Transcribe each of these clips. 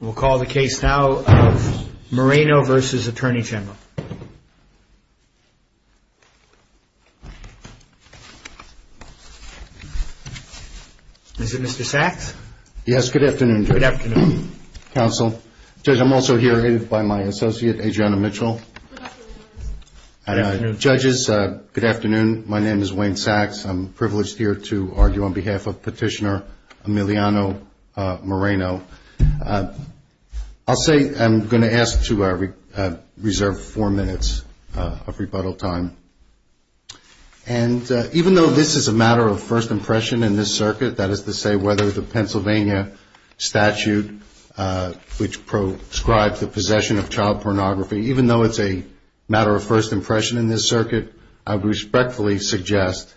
We'll call the case now of Moreno v. Attorney General. Is it Mr. Sachs? Yes. Good afternoon, Judge. Good afternoon. Counsel. Judge, I'm also here by my associate, Adriana Mitchell. Good afternoon. Good afternoon. My name is Wayne Sachs. I'm privileged here to argue on behalf of Petitioner Emiliano Moreno. I'll say I'm going to ask to reserve four minutes of rebuttal time. And even though this is a matter of first impression in this circuit, that is to say whether the Pennsylvania statute which proscribes the possession of child pornography, even though it's a matter of first impression in this circuit, I would respectfully suggest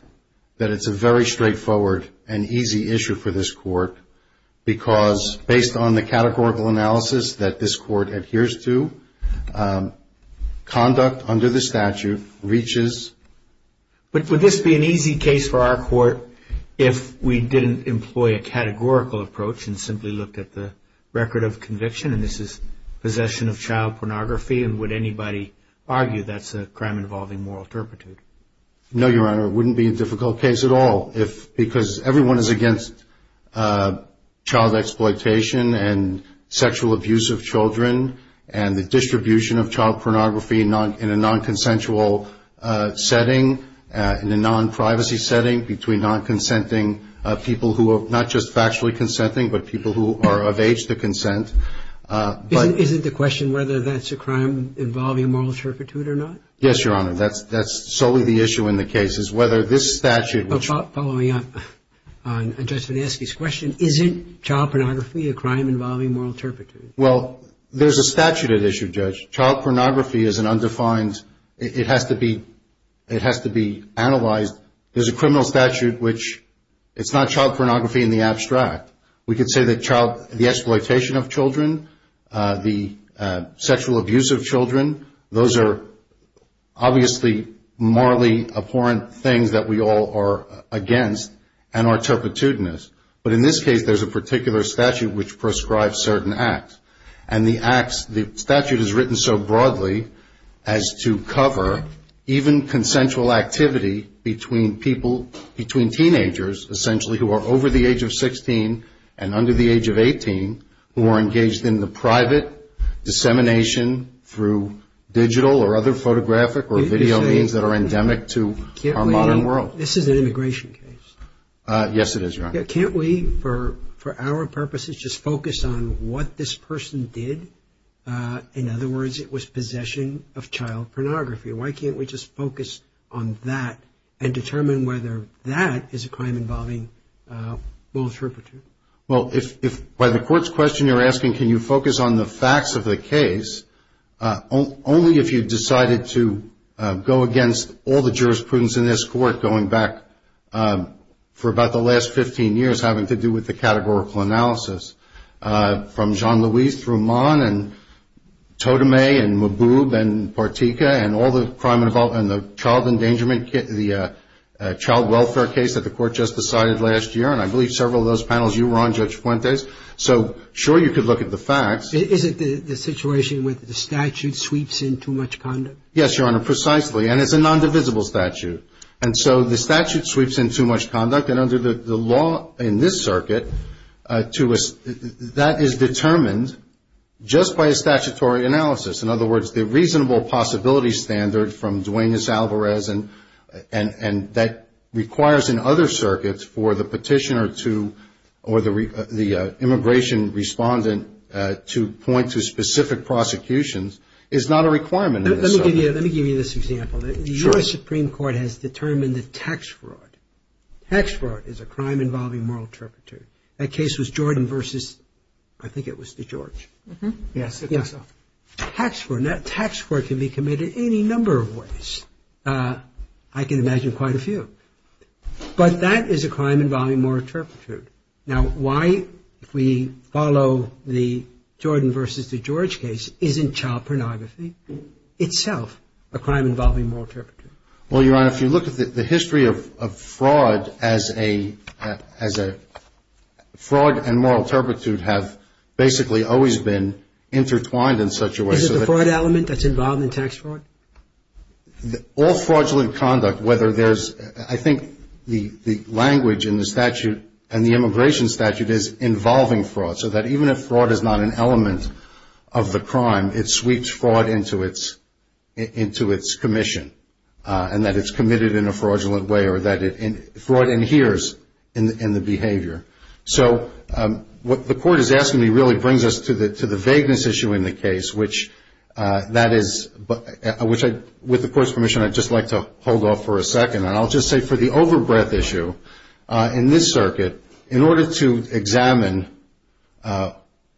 that it's a very straightforward and easy issue for this court because based on the categorical analysis that this court adheres to, conduct under the statute reaches. But would this be an easy case for our court if we didn't employ a categorical approach and simply looked at the record of conviction and this is possession of child pornography and would anybody argue that's a crime involving moral turpitude? No, Your Honor. It wouldn't be a difficult case at all because everyone is against child exploitation and sexual abuse of children and the distribution of child pornography in a non-consensual setting, in a non-privacy setting, between non-consenting people who are not just factually consenting but people who are of age to consent. Isn't the question whether that's a crime involving moral turpitude or not? Yes, Your Honor. That's solely the issue in the case is whether this statute which Following up on Judge Finansky's question, isn't child pornography a crime involving moral turpitude? Well, there's a statute at issue, Judge. Child pornography is an undefined, it has to be analyzed. There's a criminal statute which it's not child pornography in the abstract. We could say that the exploitation of children, the sexual abuse of children, those are obviously morally abhorrent things that we all are against and are turpitudinous. But in this case, there's a particular statute which prescribes certain acts. And the statute is written so broadly as to cover even consensual activity between people, between teenagers essentially who are over the age of 16 and under the age of 18 who are engaged in the private dissemination through digital or other photographic or video means that are endemic to our modern world. This is an immigration case. Yes, it is, Your Honor. Can't we, for our purposes, just focus on what this person did? In other words, it was possession of child pornography. Why can't we just focus on that and determine whether that is a crime involving moral turpitude? Well, by the Court's question you're asking, can you focus on the facts of the case, only if you've decided to go against all the jurisprudence in this Court going back for about the last 15 years having to do with the categorical analysis from Jean-Louis Thruman and Totemay and Maboub and Partika and all the crime involving the child endangerment, the child welfare case that the Court just decided last year. And I believe several of those panels you were on, Judge Fuentes. So, sure, you could look at the facts. Is it the situation where the statute sweeps in too much conduct? Yes, Your Honor, precisely. And it's a nondivisible statute. And so the statute sweeps in too much conduct. And under the law in this circuit, that is determined just by a statutory analysis. In other words, the reasonable possibility standard from Duane S. Alvarez, and that requires in other circuits for the petitioner or the immigration respondent to point to specific prosecutions, is not a requirement in this circuit. Let me give you this example. Sure. The U.S. Supreme Court has determined that tax fraud, tax fraud is a crime involving moral turpitude. That case was Jordan versus, I think it was DeGeorge. Yes, I think so. Tax fraud can be committed any number of ways. I can imagine quite a few. But that is a crime involving moral turpitude. Now, why, if we follow the Jordan versus DeGeorge case, isn't child pornography itself a crime involving moral turpitude? Well, Your Honor, if you look at the history of fraud as a, fraud and moral turpitude have basically always been intertwined in such a way. Is it the fraud element that's involved in tax fraud? All fraudulent conduct, whether there's, I think the language in the statute and the immigration statute is involving fraud. So that even if fraud is not an element of the crime, it sweeps fraud into its commission. And that it's committed in a fraudulent way or that fraud adheres in the behavior. So what the Court is asking me really brings us to the vagueness issue in the case, which that is, which I, with the Court's permission, I'd just like to hold off for a second. And I'll just say for the overbreath issue in this circuit, in order to examine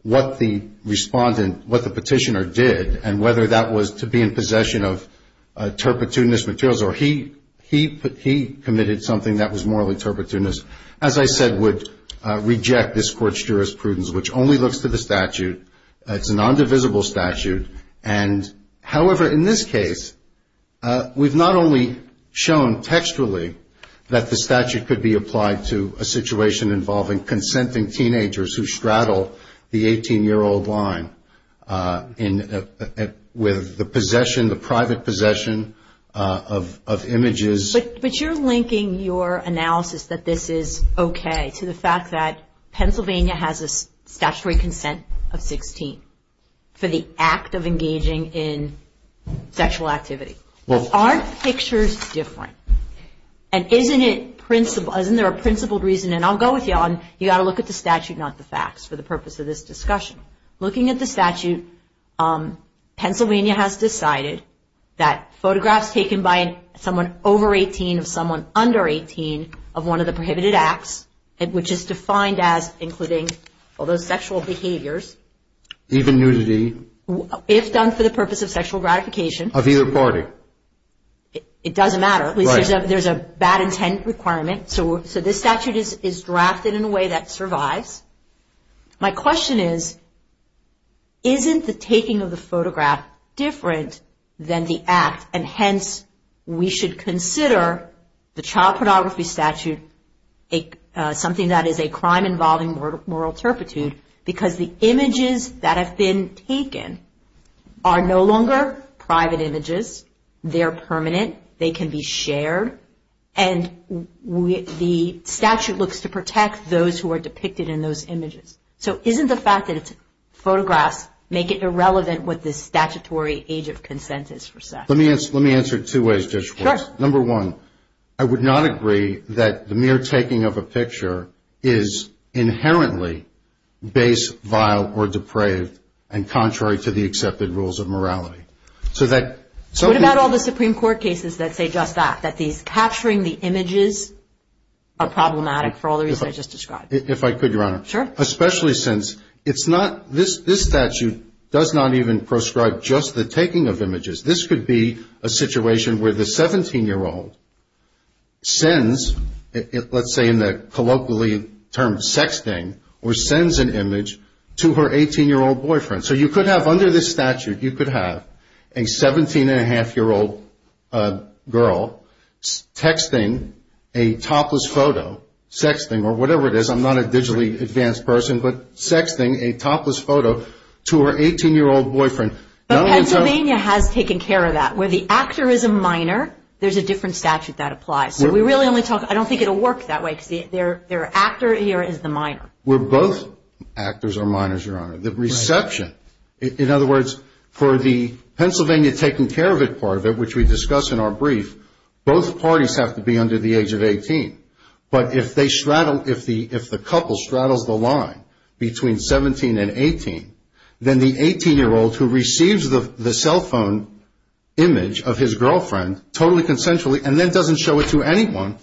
what the respondent, what the petitioner did and whether that was to be in possession of turpitudinous materials or he committed something that was morally turpitudinous, as I said, would reject this Court's jurisprudence, which only looks to the statute. It's a non-divisible statute. And, however, in this case, we've not only shown textually that the statute could be applied to a situation involving consenting teenagers who straddle the 18-year-old line with the possession, the private possession of images. But you're linking your analysis that this is okay to the fact that Pennsylvania has a statutory consent of 16 for the act of engaging in sexual activity. Aren't pictures different? And isn't there a principled reason? And I'll go with you on you've got to look at the statute, not the facts, for the purpose of this discussion. Looking at the statute, Pennsylvania has decided that photographs taken by someone over 18, of someone under 18, of one of the prohibited acts, which is defined as including all those sexual behaviors. Even nudity. If done for the purpose of sexual gratification. Of either party. It doesn't matter. There's a bad intent requirement. So this statute is drafted in a way that survives. My question is, isn't the taking of the photograph different than the act? And, hence, we should consider the child pornography statute something that is a crime involving moral turpitude. Because the images that have been taken are no longer private images. They're permanent. They can be shared. And the statute looks to protect those who are depicted in those images. So isn't the fact that it's photographs make it irrelevant what the statutory age of consent is for sex? Let me answer it two ways, just once. Sure. Number one, I would not agree that the mere taking of a picture is inherently base, vile, or depraved, and contrary to the accepted rules of morality. What about all the Supreme Court cases that say just that? That these capturing the images are problematic for all the reasons I just described? If I could, Your Honor. Sure. Especially since it's not, this statute does not even prescribe just the taking of images. This could be a situation where the 17-year-old sends, let's say in the colloquially term sexting, or sends an image to her 18-year-old boyfriend. So you could have under this statute, you could have a 17-and-a-half-year-old girl texting a topless photo, sexting, or whatever it is, I'm not a digitally advanced person, but sexting a topless photo to her 18-year-old boyfriend. But Pennsylvania has taken care of that. Where the actor is a minor, there's a different statute that applies. So we really only talk, I don't think it will work that way because their actor here is the minor. Where both actors are minors, Your Honor. The reception, in other words, for the Pennsylvania taking care of it part of it, which we discuss in our brief, both parties have to be under the age of 18. But if they straddle, if the couple straddles the line between 17 and 18, then the 18-year-old who receives the cell phone image of his girlfriend totally consensually, and then doesn't show it to anyone,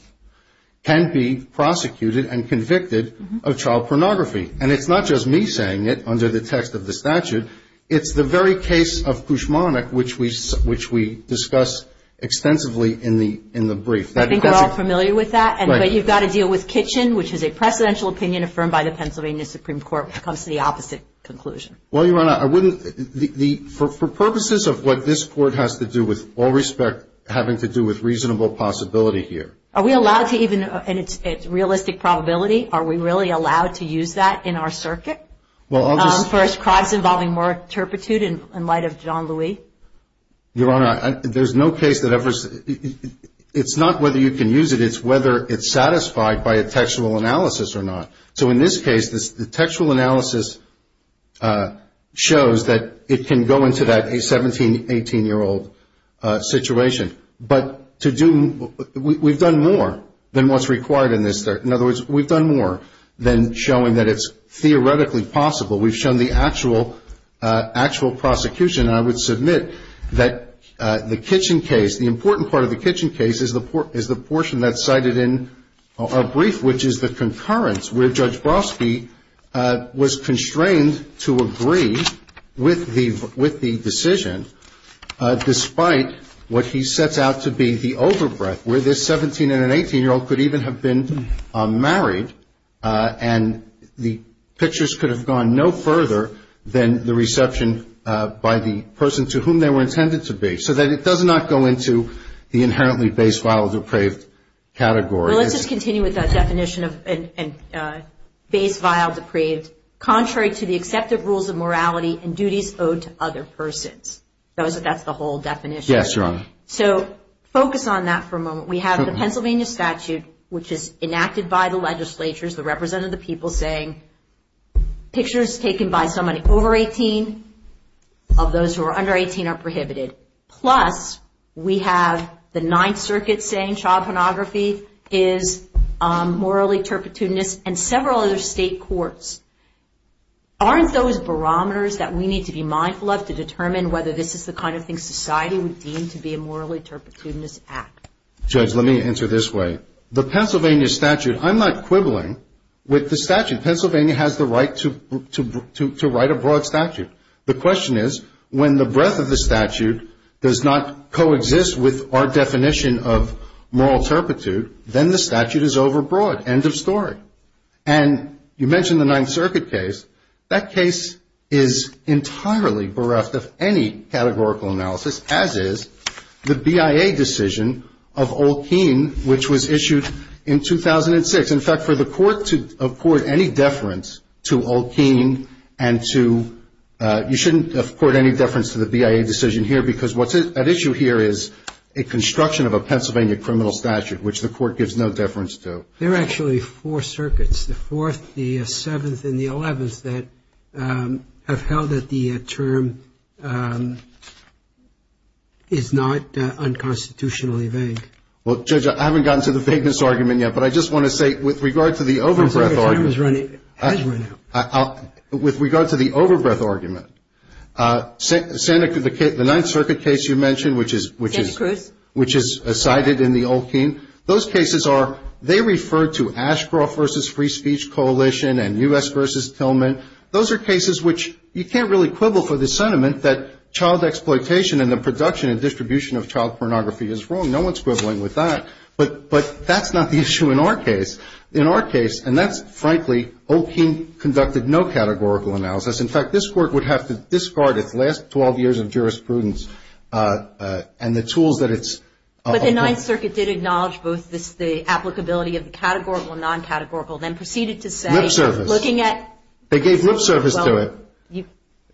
can be prosecuted and convicted of child pornography. And it's not just me saying it under the text of the statute. It's the very case of kushmanik, which we discuss extensively in the brief. I think we're all familiar with that. Right. But you've got to deal with kitchen, which is a presidential opinion affirmed by the Pennsylvania Supreme Court, which comes to the opposite conclusion. Well, Your Honor, I wouldn't, for purposes of what this court has to do with all respect, having to do with reasonable possibility here. Are we allowed to even, and it's realistic probability, are we really allowed to use that in our circuit? Well, I'll just. For crimes involving more turpitude in light of Jean-Louis? Your Honor, there's no case that ever, it's not whether you can use it, it's whether it's satisfied by a textual analysis or not. So in this case, the textual analysis shows that it can go into that 17, 18-year-old situation. But to do, we've done more than what's required in this. In other words, we've done more than showing that it's theoretically possible. We've shown the actual prosecution. And I would submit that the kitchen case, the important part of the kitchen case, is the portion that's cited in our brief, which is the concurrence, where Judge Brofsky was constrained to agree with the decision, despite what he sets out to be the overbreath, where this 17- and an 18-year-old could even have been married, and the pictures could have gone no further than the reception by the person to whom they were intended to be, so that it does not go into the inherently base vial depraved category. Well, let's just continue with that definition of base vial depraved. Contrary to the accepted rules of morality and duties owed to other persons. That's the whole definition. Yes, Your Honor. So focus on that for a moment. We have the Pennsylvania statute, which is enacted by the legislatures, the representative of the people saying pictures taken by somebody over 18, of those who are under 18, are prohibited. Plus, we have the Ninth Circuit saying child pornography is morally turpitudinous, and several other state courts. Aren't those barometers that we need to be mindful of to determine whether this is the kind of thing society would consider to be a morally turpitudinous act? Judge, let me answer this way. The Pennsylvania statute, I'm not quibbling with the statute. Pennsylvania has the right to write a broad statute. The question is, when the breadth of the statute does not coexist with our definition of moral turpitude, then the statute is overbroad, end of story. And you mentioned the Ninth Circuit case. That case is entirely bereft of any categorical analysis, as is the BIA decision of Olkein, which was issued in 2006. In fact, for the court to accord any deference to Olkein and to you shouldn't accord any deference to the BIA decision here, because what's at issue here is a construction of a Pennsylvania criminal statute, which the court gives no deference to. There are actually four circuits, the Fourth, the Seventh, and the Eleventh, that have held that the term is not unconstitutionally vague. Well, Judge, I haven't gotten to the vagueness argument yet, but I just want to say, with regard to the overbreadth argument. The term has run out. With regard to the overbreadth argument, the Ninth Circuit case you mentioned, which is cited in the Olkein, those cases are, they refer to Ashcroft v. Free Speech Coalition and U.S. v. Tillman. Those are cases which you can't really quibble for the sentiment that child exploitation and the production and distribution of child pornography is wrong. No one is quibbling with that. But that's not the issue in our case. In our case, and that's, frankly, Olkein conducted no categorical analysis. In fact, this Court would have to discard its last 12 years of jurisprudence and the tools that it's ---- The Ninth Circuit did acknowledge both the applicability of the categorical and non-categorical, then proceeded to say, looking at ---- Lip service. They gave lip service to it. Well, you ----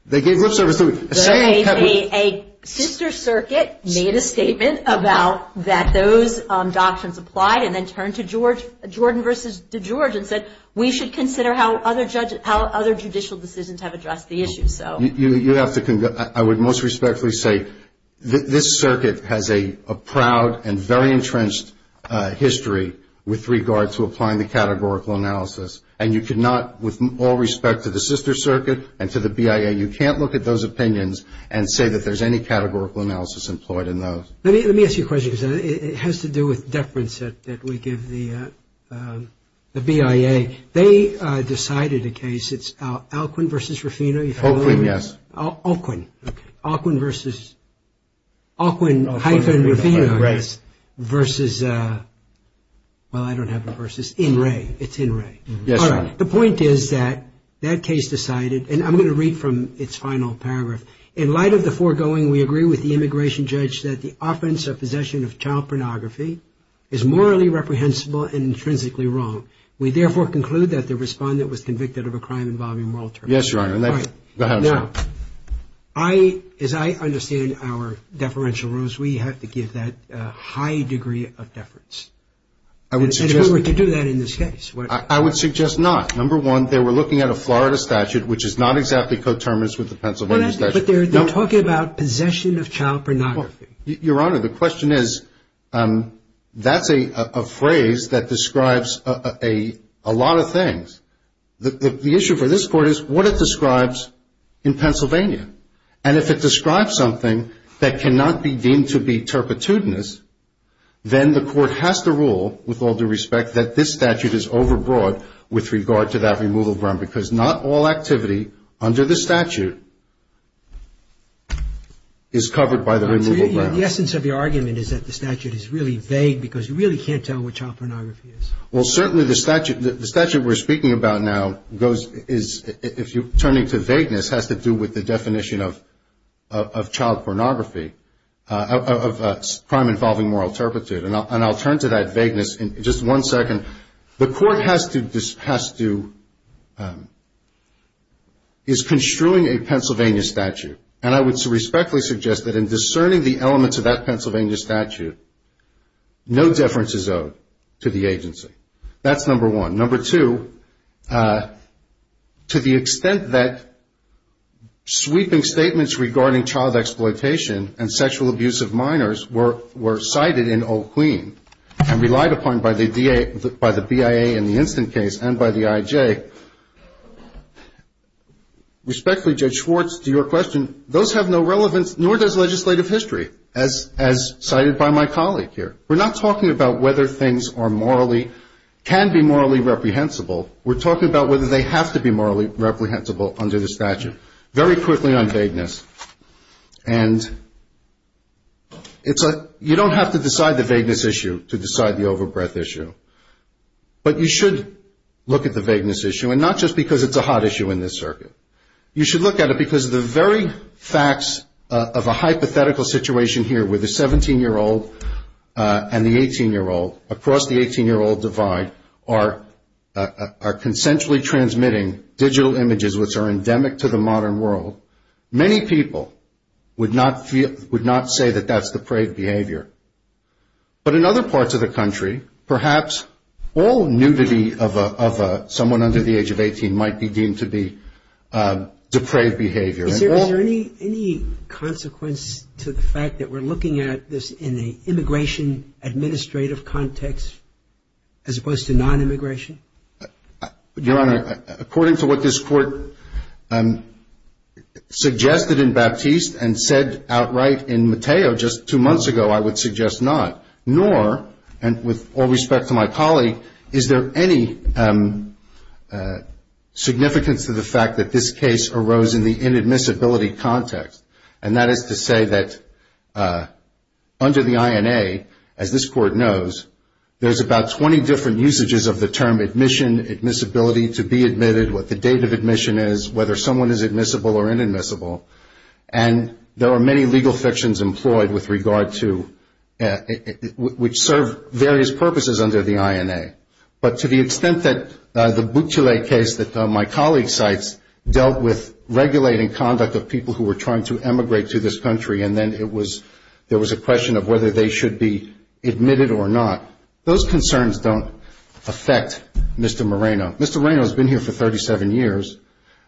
They gave lip service to it. A sister circuit made a statement about that those doctrines applied, and then turned to Jordan v. DeGeorge and said, we should consider how other judicial decisions have addressed the issue. You have to ---- I would most respectfully say this circuit has a proud and very entrenched history with regard to applying the categorical analysis. And you cannot, with all respect to the sister circuit and to the BIA, you can't look at those opinions and say that there's any categorical analysis employed in those. Let me ask you a question, because it has to do with deference that we give the BIA. Okay. They decided a case, it's Alquin v. Rufino. Alquin, yes. Alquin. Okay. Alquin-Rufino. Alquin-Rufino. Right. Versus, well, I don't have a versus. In re. It's in re. Yes, Your Honor. The point is that that case decided, and I'm going to read from its final paragraph. In light of the foregoing, we agree with the immigration judge that the offense of possession of child pornography is morally reprehensible and intrinsically wrong. We therefore conclude that the respondent was convicted of a crime involving moral turmoil. Yes, Your Honor. Now, as I understand our deferential rules, we have to give that a high degree of deference. I would suggest. And if we were to do that in this case. I would suggest not. Number one, they were looking at a Florida statute, which is not exactly coterminous with the Pennsylvania statute. But they're talking about possession of child pornography. Your Honor, the question is, that's a phrase that describes a lot of things. The issue for this court is what it describes in Pennsylvania. And if it describes something that cannot be deemed to be turpitudinous, then the court has to rule, with all due respect, that this statute is overbroad with regard to that removal. Because not all activity under the statute is covered by the removal. The essence of your argument is that the statute is really vague because you really can't tell what child pornography is. Well, certainly the statute we're speaking about now goes, if you're turning to vagueness, has to do with the definition of child pornography, of crime involving moral turpitude. And I'll turn to that vagueness in just one second. The court has to, is construing a Pennsylvania statute. And I would respectfully suggest that in discerning the elements of that Pennsylvania statute, no deference is owed to the agency. That's number one. Number two, to the extent that sweeping statements regarding child exploitation and sexual abuse of minors were cited in Old Queen and relied upon by the BIA in the instant case and by the IJ, respectfully, Judge Schwartz, to your question, those have no relevance, nor does legislative history, as cited by my colleague here. We're not talking about whether things are morally, can be morally reprehensible. We're talking about whether they have to be morally reprehensible under the statute. Very quickly on vagueness. And it's a, you don't have to decide the vagueness issue to decide the overbreadth issue. But you should look at the vagueness issue, and not just because it's a hot issue in this circuit. You should look at it because the very facts of a hypothetical situation here where the 17-year-old and the 18-year-old, across the 18-year-old divide, are consensually transmitting digital images, which are endemic to the modern world, many people would not say that that's the parade behavior. But in other parts of the country, perhaps all nudity of someone under the age of 18 might be deemed to be depraved behavior. Is there any consequence to the fact that we're looking at this in an immigration administrative context, as opposed to non-immigration? Your Honor, according to what this Court suggested in Baptiste and said outright in Matteo just two months ago, I would suggest not, nor, and with all respect to my colleague, is there any significance to the fact that this case arose in the inadmissibility context? And that is to say that under the INA, as this Court knows, there's about 20 different usages of the term admission, admissibility, to be admitted, what the date of admission is, whether someone is admissible or inadmissible. And there are many legal fictions employed with regard to, which serve various purposes under the INA. But to the extent that the Boutchelet case that my colleague cites dealt with regulating conduct of people who were trying to emigrate to this country, and then it was, there was a question of whether they should be admitted or not, those concerns don't affect Mr. Moreno. Mr. Moreno has been here for 37 years.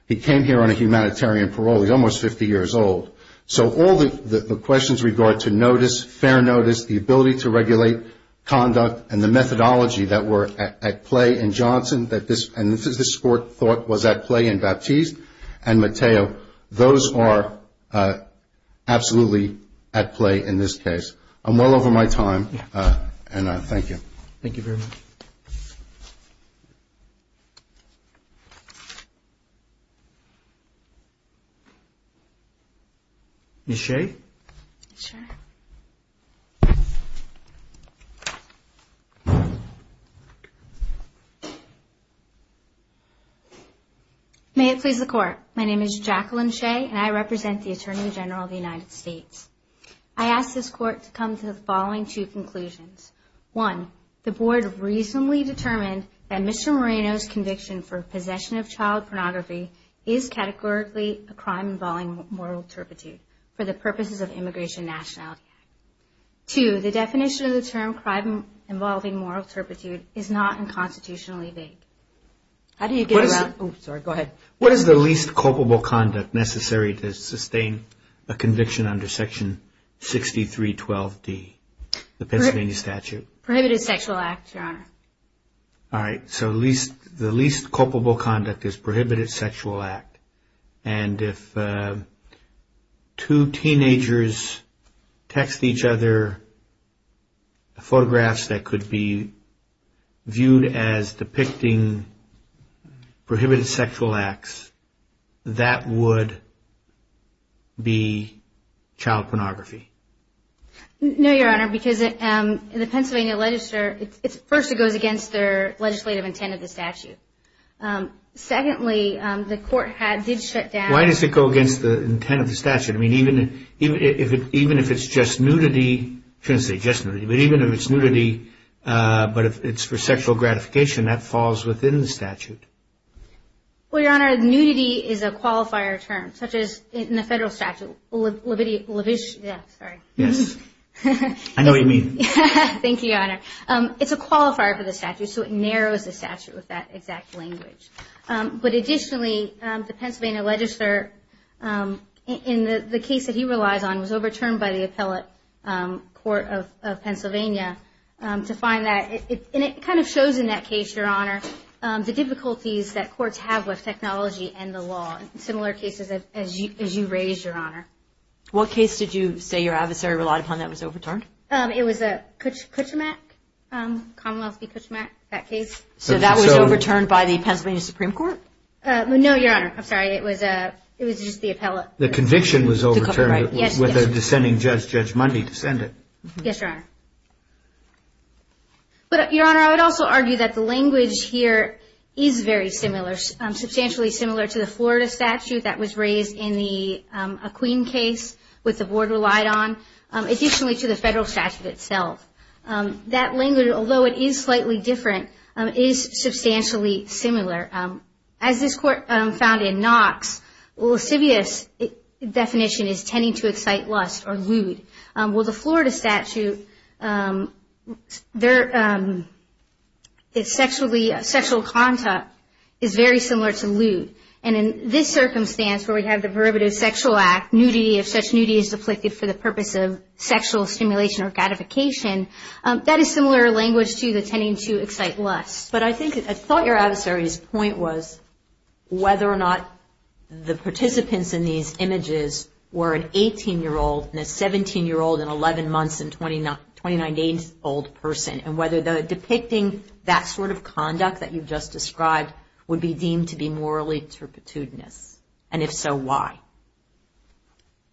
He came here on a humanitarian parole. He's almost 50 years old. So all the questions with regard to notice, fair notice, the ability to regulate conduct, and the methodology that were at play in Johnson, and this Court thought was at play in Baptiste and Matteo, those are absolutely at play in this case. I'm well over my time, and I thank you. Thank you very much. Ms. Shea? Sure. May it please the Court. My name is Jacqueline Shea, and I represent the Attorney General of the United States. I ask this Court to come to the following two conclusions. One, the Board reasonably determined that Mr. Moreno's conviction for possession of child pornography is categorically a crime involving moral turpitude for the purposes of immigration nationality. Two, the definition of the term crime involving moral turpitude is not unconstitutionally vague. How do you get around? Oh, sorry. Go ahead. What is the least culpable conduct necessary to sustain a conviction under Section 6312D, the Pennsylvania statute? Prohibited sexual act, Your Honor. All right. So the least culpable conduct is prohibited sexual act. And if two teenagers text each other photographs that could be viewed as depicting prohibited sexual acts, that would be child pornography? No, Your Honor, because in the Pennsylvania legislature, first, it goes against their legislative intent of the statute. Secondly, the Court did shut down – Why does it go against the intent of the statute? I mean, even if it's just nudity – I shouldn't say just nudity, but even if it's nudity, but if it's for sexual gratification, that falls within the statute. Well, Your Honor, nudity is a qualifier term, such as in the federal statute, levitia – levis – yeah, sorry. Yes. Thank you, Your Honor. It's a qualifier for the statute, so it narrows the statute with that exact language. But additionally, the Pennsylvania legislature, in the case that he relies on, was overturned by the appellate court of Pennsylvania to find that – and it kind of shows in that case, Your Honor, the difficulties that courts have with technology and the law, similar cases as you raised, Your Honor. What case did you say your adversary relied upon that was overturned? It was Kutchemak, Commonwealth v. Kutchemak, that case. So that was overturned by the Pennsylvania Supreme Court? No, Your Honor. I'm sorry. It was just the appellate. The conviction was overturned with a dissenting judge, Judge Mundy, to send it. Yes, Your Honor. But, Your Honor, I would also argue that the language here is very similar, substantially similar to the Florida statute that was raised in a Queen case, which the board relied on. Additionally to the federal statute itself. That language, although it is slightly different, is substantially similar. As this court found in Knox, lascivious definition is tending to excite lust or lewd. Well, the Florida statute, it's sexual contact is very similar to lewd. And in this circumstance where we have the prerogative sexual act, nudity, if such nudity is afflicted for the purpose of sexual stimulation or gratification, that is similar language to the tending to excite lust. But I think, I thought your adversary's point was whether or not the participants in these images were an 18-year-old and a 17-year-old and 11 months and 29 days old person. And whether depicting that sort of conduct that you've just described would be deemed to be morally turpitudinous. And if so, why?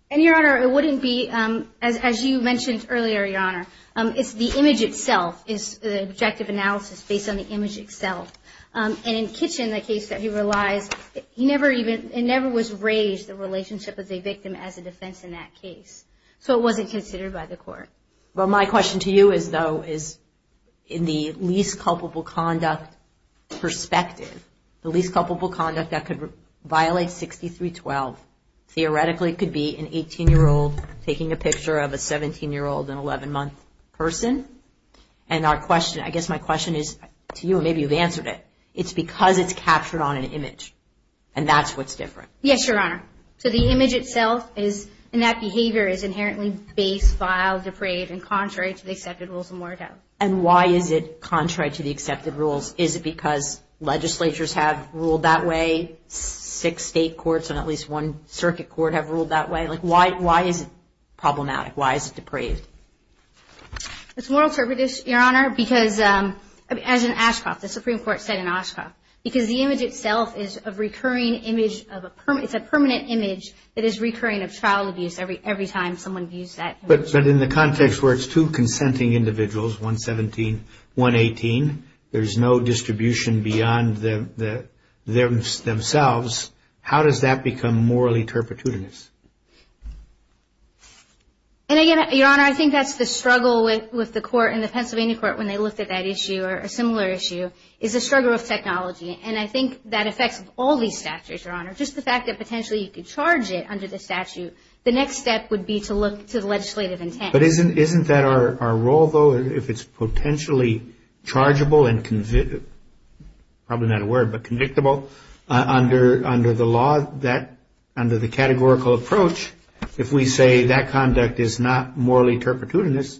And, Your Honor, it wouldn't be, as you mentioned earlier, Your Honor, it's the image itself, it's the objective analysis based on the image itself. And in Kitchen, the case that he relies, he never even, it never was raised, the relationship of the victim as a defense in that case. So it wasn't considered by the court. Well, my question to you is, though, is in the least culpable conduct perspective, the least culpable conduct that could violate 6312 theoretically could be an 18-year-old taking a picture of a 17-year-old and 11-month person. And our question, I guess my question is to you, and maybe you've answered it, it's because it's captured on an image. And that's what's different. Yes, Your Honor. So the image itself is, and that behavior is inherently base, vile, depraved, and contrary to the accepted rules of moral doubt. And why is it contrary to the accepted rules? Is it because legislatures have ruled that way? Six state courts and at least one circuit court have ruled that way? Like, why is it problematic? Why is it depraved? It's morally turpitous, Your Honor, because, as in Oshkosh, the Supreme Court said in Oshkosh, because the image itself is a recurring image, it's a permanent image that is recurring of child abuse every time someone views that image. But in the context where it's two consenting individuals, 117, 118, there's no distribution beyond themselves, how does that become morally turpitous? And again, Your Honor, I think that's the struggle with the court and the Pennsylvania court when they looked at that issue, or a similar issue, is the struggle of technology. And I think that affects all these statutes, Your Honor. Just the fact that potentially you could charge it under the statute, the next step would be to look to the legislative intent. But isn't that our role, though, if it's potentially chargeable and probably not a word, but convictable, under the law, under the categorical approach, if we say that conduct is not morally turpitudinous,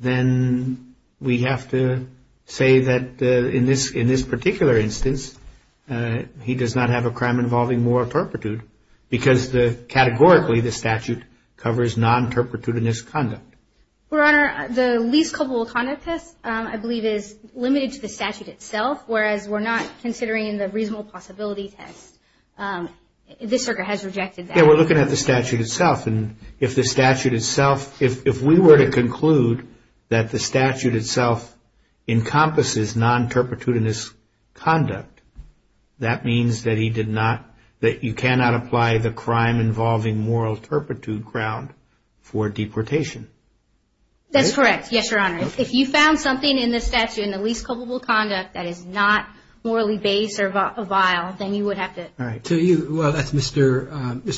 then we have to say that in this particular instance, he does not have a crime involving moral turpitude, because categorically the statute covers non-turpitudinous conduct. Your Honor, the least culpable conduct test, I believe, is limited to the statute itself, whereas we're not considering the reasonable possibility test. This circuit has rejected that. Yeah, we're looking at the statute itself. And if the statute itself, if we were to conclude that the statute itself encompasses non-turpitudinous conduct, that means that you cannot apply the crime involving moral turpitude ground for deportation. That's correct. Yes, Your Honor. If you found something in the statute, in the least culpable conduct, that is not morally base or vile, then you would have to. All right. To you, well, that's Mr.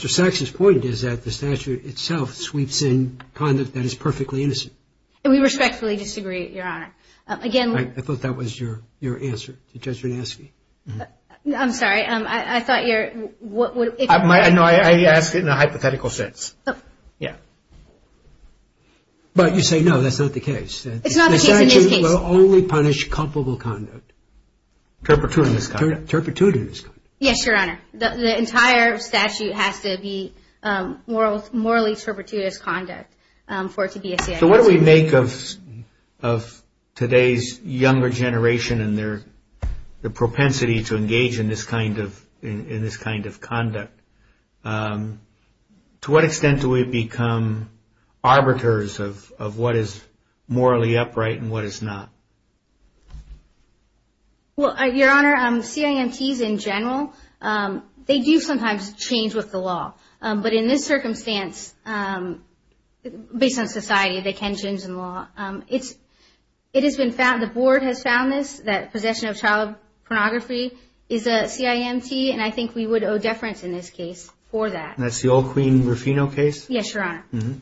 Saxon's point, is that the statute itself sweeps in conduct that is perfectly innocent. We respectfully disagree, Your Honor. Again. I thought that was your answer to Judge Zinanski. I'm sorry. I thought your, what would. No, I asked it in a hypothetical sense. Yeah. But you say, no, that's not the case. It's not the case in this case. The statute will only punish culpable conduct. Turpitudinous conduct. Turpitudinous conduct. Yes, Your Honor. The entire statute has to be morally turpitudinous conduct for it to be a CID. So what do we make of today's younger generation and their propensity to engage in this kind of conduct? To what extent do we become arbiters of what is morally upright and what is not? Well, Your Honor, CIMTs in general, they do sometimes change with the law. But in this circumstance, based on society, they can change the law. It has been found, the board has found this, that possession of child pornography is a CIMT, and I think we would owe deference in this case for that. And that's the old Queen Rufino case? Yes, Your Honor. Mm-hmm.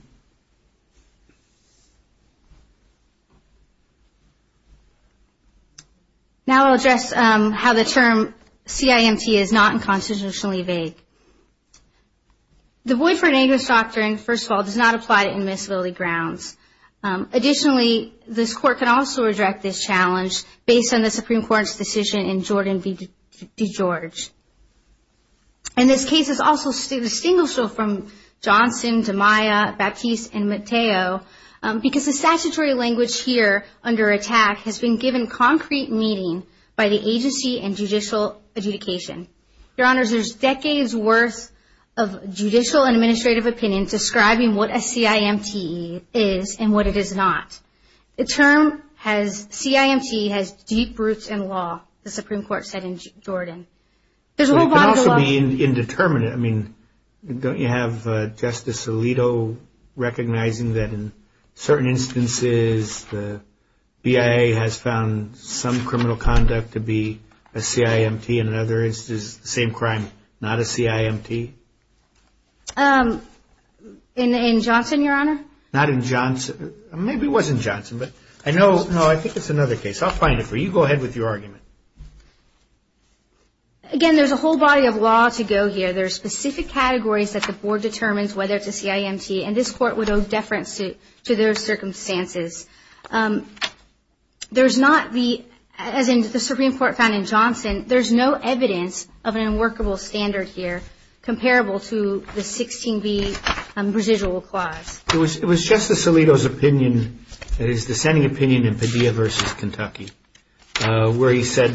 Now I'll address how the term CIMT is not unconstitutionally vague. The Boyd-Ford Angus Doctrine, first of all, does not apply to immiscibility grounds. Additionally, this Court can also reject this challenge based on the Supreme Court's decision in Jordan v. DeGeorge. And this case is also distinguishable from Johnson, DiMaia, Baptiste, and Matteo because the statutory language here under ATT&CK has been given concrete meaning by the agency and judicial adjudication. Your Honors, there's decades' worth of judicial and administrative opinion describing what a CIMT is and what it is not. The term CIMT has deep roots in law, the Supreme Court said in Jordan. There's a whole body of law. But it can also be indeterminate. I mean, don't you have Justice Alito recognizing that in certain instances the BIA has found some criminal conduct to be a CIMT and in other instances the same crime, not a CIMT? In Johnson, Your Honor? Not in Johnson. Maybe it was in Johnson. But I know, no, I think it's another case. I'll find it for you. Go ahead with your argument. Again, there's a whole body of law to go here. There are specific categories that the Board determines whether it's a CIMT. And this Court would owe deference to their circumstances. There's not the, as in the Supreme Court found in Johnson, there's no evidence of an unworkable standard here comparable to the 16B residual clause. It was Justice Alito's opinion, his dissenting opinion in Padilla v. Kentucky, where he said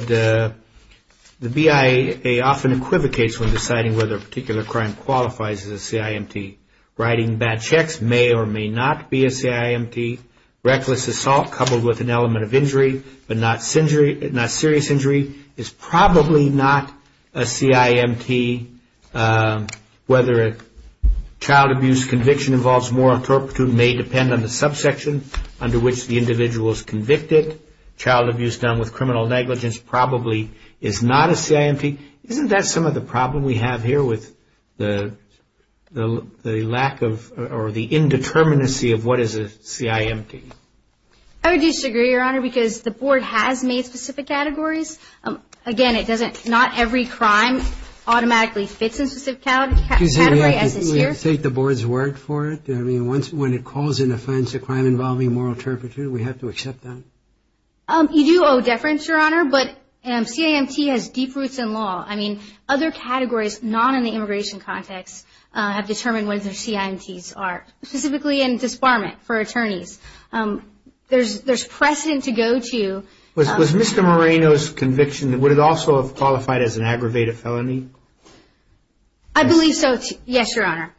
the BIA often equivocates when deciding whether a particular crime qualifies as a CIMT. Writing bad checks may or may not be a CIMT. Reckless assault coupled with an element of injury, but not serious injury, is probably not a CIMT. Whether a child abuse conviction involves moral turpitude may depend on the subsection under which the individual is convicted. Child abuse done with criminal negligence probably is not a CIMT. Isn't that some of the problem we have here with the lack of, or the indeterminacy of what is a CIMT? I would disagree, Your Honor, because the Board has made specific categories. Again, it doesn't, not every crime automatically fits in specific categories as is here. We have to take the Board's word for it. I mean, when it calls an offense a crime involving moral turpitude, we have to accept that. You do owe deference, Your Honor, but CIMT has deep roots in law. I mean, other categories not in the immigration context have determined what their CIMTs are, specifically in disbarment for attorneys. There's precedent to go to. Was Mr. Moreno's conviction, would it also have qualified as an aggravated felony? I believe so, yes, Your Honor.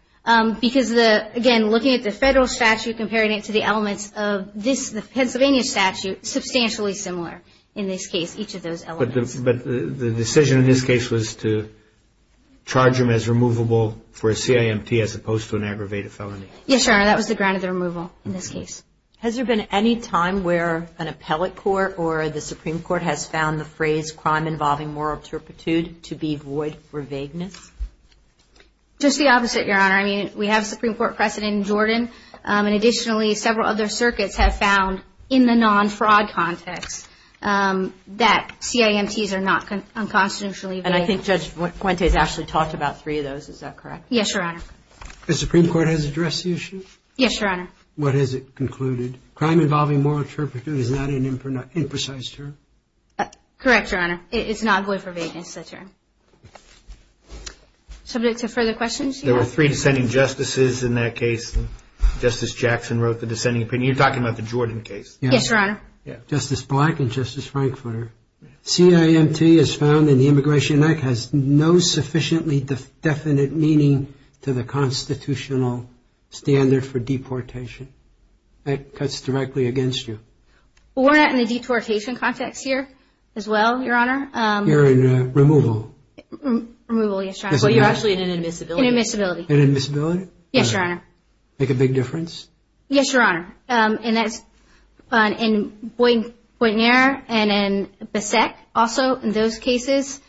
Because, again, looking at the federal statute, comparing it to the elements of this, the Pennsylvania statute, substantially similar in this case, each of those elements. But the decision in this case was to charge him as removable for a CIMT as opposed to an aggravated felony. Yes, Your Honor, that was the ground of the removal in this case. Has there been any time where an appellate court or the Supreme Court has found the phrase crime involving moral turpitude to be void for vagueness? Just the opposite, Your Honor. I mean, we have a Supreme Court precedent in Jordan, and additionally, several other circuits have found in the non-fraud context that CIMTs are not unconstitutionally vague. And I think Judge Fuentes actually talked about three of those. Is that correct? Yes, Your Honor. The Supreme Court has addressed the issue? Yes, Your Honor. What has it concluded? Crime involving moral turpitude is not an imprecise term? Correct, Your Honor. It's not void for vagueness, that term. Subject to further questions? There were three dissenting justices in that case. Justice Jackson wrote the dissenting opinion. You're talking about the Jordan case? Yes, Your Honor. Justice Black and Justice Frankfurter. CIMT is found in the Immigration Act has no sufficiently definite meaning to the constitutional standard for deportation. That cuts directly against you. We're not in a deportation context here as well, Your Honor. You're in removal. Removal, yes, Your Honor. Well, you're actually in an admissibility. In admissibility. In admissibility? Yes, Your Honor. Make a big difference? Yes, Your Honor. And that's in Boynton-Aire and in Basset, also in those cases,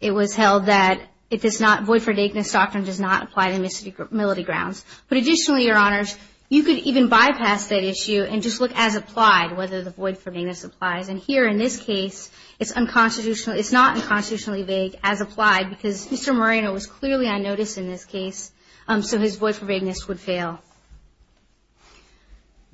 it was held that it does not, void for vagueness doctrine does not apply to admissibility grounds. But additionally, Your Honors, you could even bypass that issue and just look as applied, whether the void for vagueness applies. And here in this case, it's not unconstitutionally vague as applied, because Mr. Moreno was clearly unnoticed in this case, so his void for vagueness would fail.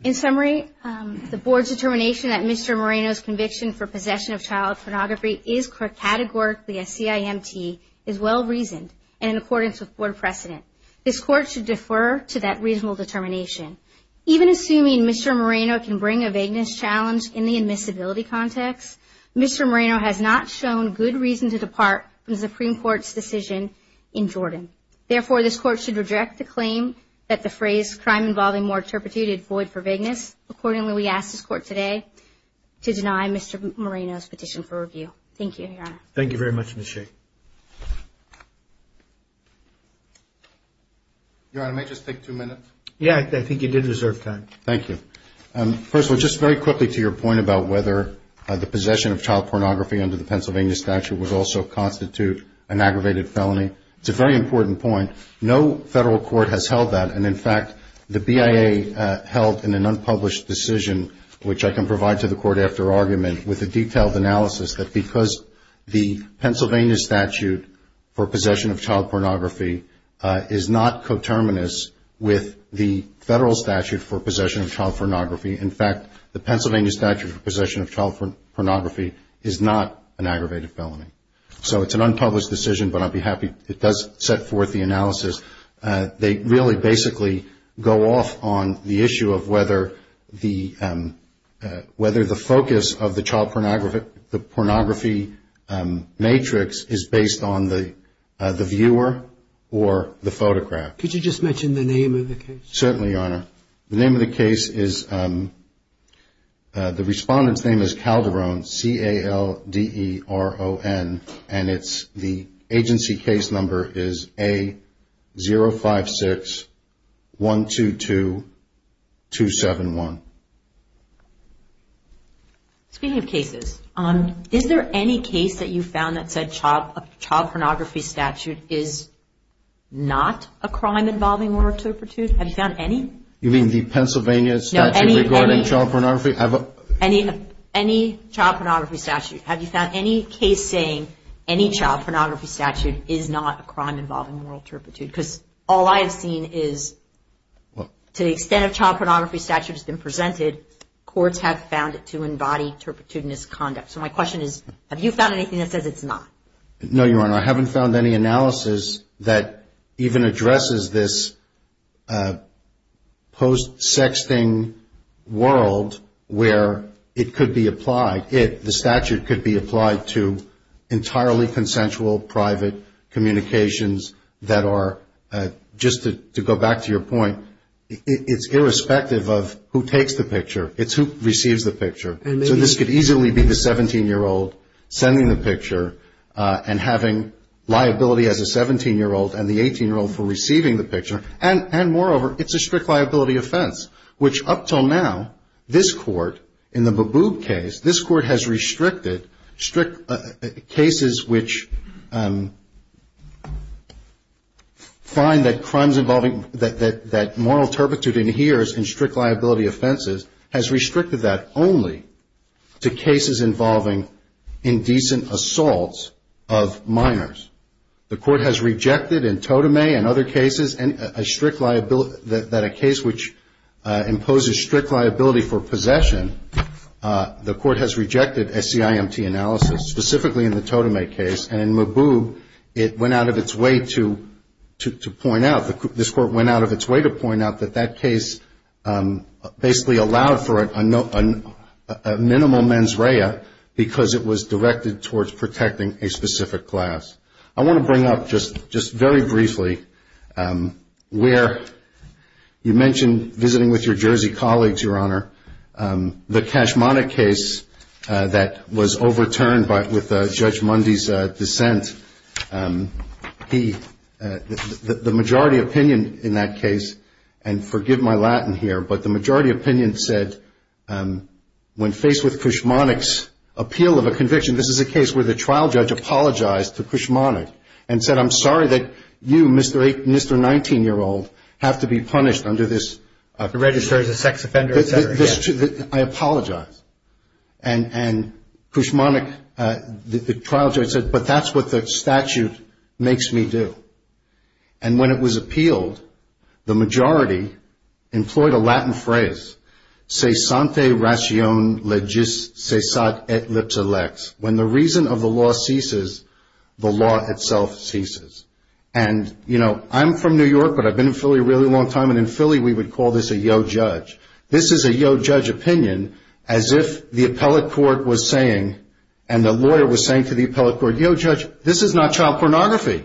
In summary, the Board's determination that Mr. Moreno's conviction for possession of child pornography is categorically a CIMT is well-reasoned and in accordance with Board precedent. This Court should defer to that reasonable determination. Even assuming Mr. Moreno can bring a vagueness challenge in the admissibility context, Mr. Moreno has not shown good reason to depart from the Supreme Court's decision in Jordan. Therefore, this Court should reject the claim that the phrase, crime involving more turpitude, is void for vagueness. Accordingly, we ask this Court today to deny Mr. Moreno's petition for review. Thank you, Your Honor. Thank you very much, Ms. Shea. Your Honor, may I just take two minutes? Yeah, I think you did deserve time. Thank you. First of all, just very quickly to your point about whether the possession of child pornography under the Pennsylvania statute would also constitute an aggravated felony. It's a very important point. No federal court has held that, and in fact, the BIA held in an unpublished decision, which I can provide to the Court after argument with a detailed analysis, that because the Pennsylvania statute for possession of child pornography is not coterminous with the federal statute for possession of child pornography. In fact, the Pennsylvania statute for possession of child pornography is not an aggravated felony. So it's an unpublished decision, but I'll be happy, it does set forth the analysis. They really basically go off on the issue of whether the focus of the child pornography matrix is based on the viewer or the photograph. Could you just mention the name of the case? Certainly, Your Honor. The name of the case is, the respondent's name is Calderon, C-A-L-D-E-R-O-N, and the agency case number is A-056-122-271. Speaking of cases, is there any case that you found that said child pornography statute is not a crime involving one or two? Have you found any? You mean the Pennsylvania statute regarding child pornography? Any child pornography statute. Have you found any case saying any child pornography statute is not a crime involving moral turpitude? Because all I have seen is, to the extent of child pornography statute has been presented, courts have found it to embody turpitudinous conduct. So my question is, have you found anything that says it's not? No, Your Honor. I haven't found any analysis that even addresses this post-sexting world where it could be applied. The statute could be applied to entirely consensual private communications that are, just to go back to your point, it's irrespective of who takes the picture. It's who receives the picture. So this could easily be the 17-year-old sending the picture and having liability as a 17-year-old and the 18-year-old for receiving the picture. And moreover, it's a strict liability offense, which up until now, this Court, in the Baboob case, this Court has restricted strict cases which find that crimes involving, that moral turpitude adheres in strict liability offenses, has restricted that only to cases involving indecent assaults of minors. The Court has rejected in Totemay and other cases that a case which imposes strict liability for possession, the Court has rejected SCIMT analysis, specifically in the Totemay case. And in Baboob, it went out of its way to point out, this Court went out of its way to point out that that case basically allowed for a minimal mens rea because it was directed towards protecting a specific class. I want to bring up just very briefly where you mentioned visiting with your Jersey colleagues, Your Honor, the Kashmonik case that was overturned with Judge Mundy's dissent. The majority opinion in that case, and forgive my Latin here, but the majority opinion said when faced with Kashmonik's appeal of a conviction, this is a case where the trial judge apologized to Kashmonik and said, I'm sorry that you, Mr. 19-year-old, have to be punished under this. You have to register as a sex offender, et cetera. I apologize. And Kashmonik, the trial judge said, but that's what the statute makes me do. And when it was appealed, the majority employed a Latin phrase, se sante ration le gis, se sate et le telex. When the reason of the law ceases, the law itself ceases. And, you know, I'm from New York, but I've been in Philly a really long time, and in Philly we would call this a yo judge. This is a yo judge opinion as if the appellate court was saying, and the lawyer was saying to the appellate court, yo judge, this is not child pornography.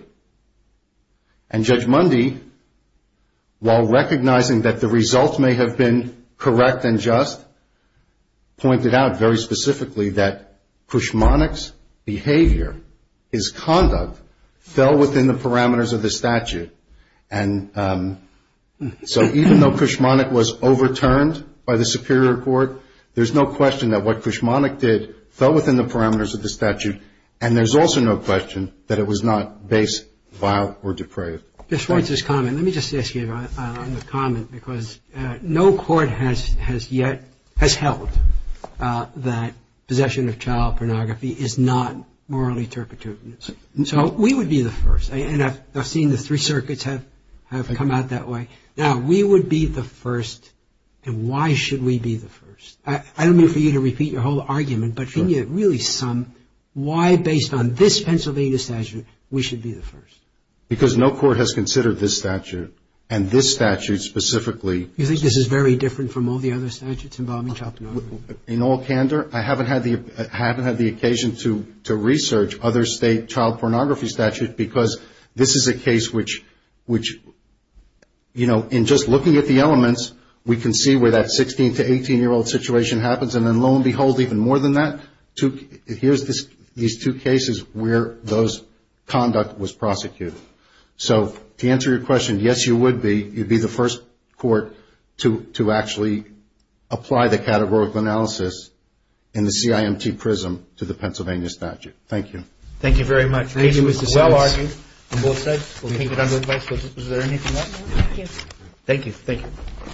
And Judge Mundy, while recognizing that the results may have been correct and just, pointed out very specifically that Kashmonik's behavior, his conduct, fell within the parameters of the statute. And so even though Kashmonik was overturned by the Superior Court, there's no question that what Kashmonik did fell within the parameters of the statute, and there's also no question that it was not based, filed, or depraved. Judge Schwartz's comment. Let me just ask you on the comment because no court has yet, has held that possession of child pornography is not morally turpitude. So we would be the first, and I've seen the three circuits have come out that way. Now, we would be the first, and why should we be the first? I don't mean for you to repeat your whole argument, but can you really sum why based on this Pennsylvania statute we should be the first? Because no court has considered this statute, and this statute specifically. You think this is very different from all the other statutes involving child pornography? In all candor, I haven't had the occasion to research other state child pornography statutes because this is a case which, you know, in just looking at the elements, we can see where that 16 to 18-year-old situation happens, and then lo and behold, even more than that, here's these two cases where those conduct was prosecuted. So to answer your question, yes, you would be. You'd be the first court to actually apply the categorical analysis in the CIMT prism to the Pennsylvania statute. Thank you. Thank you very much. Thank you, Mr. Smith. Well argued on both sides. We'll take it under advice. Was there anything else? Yes. Thank you. Thank you.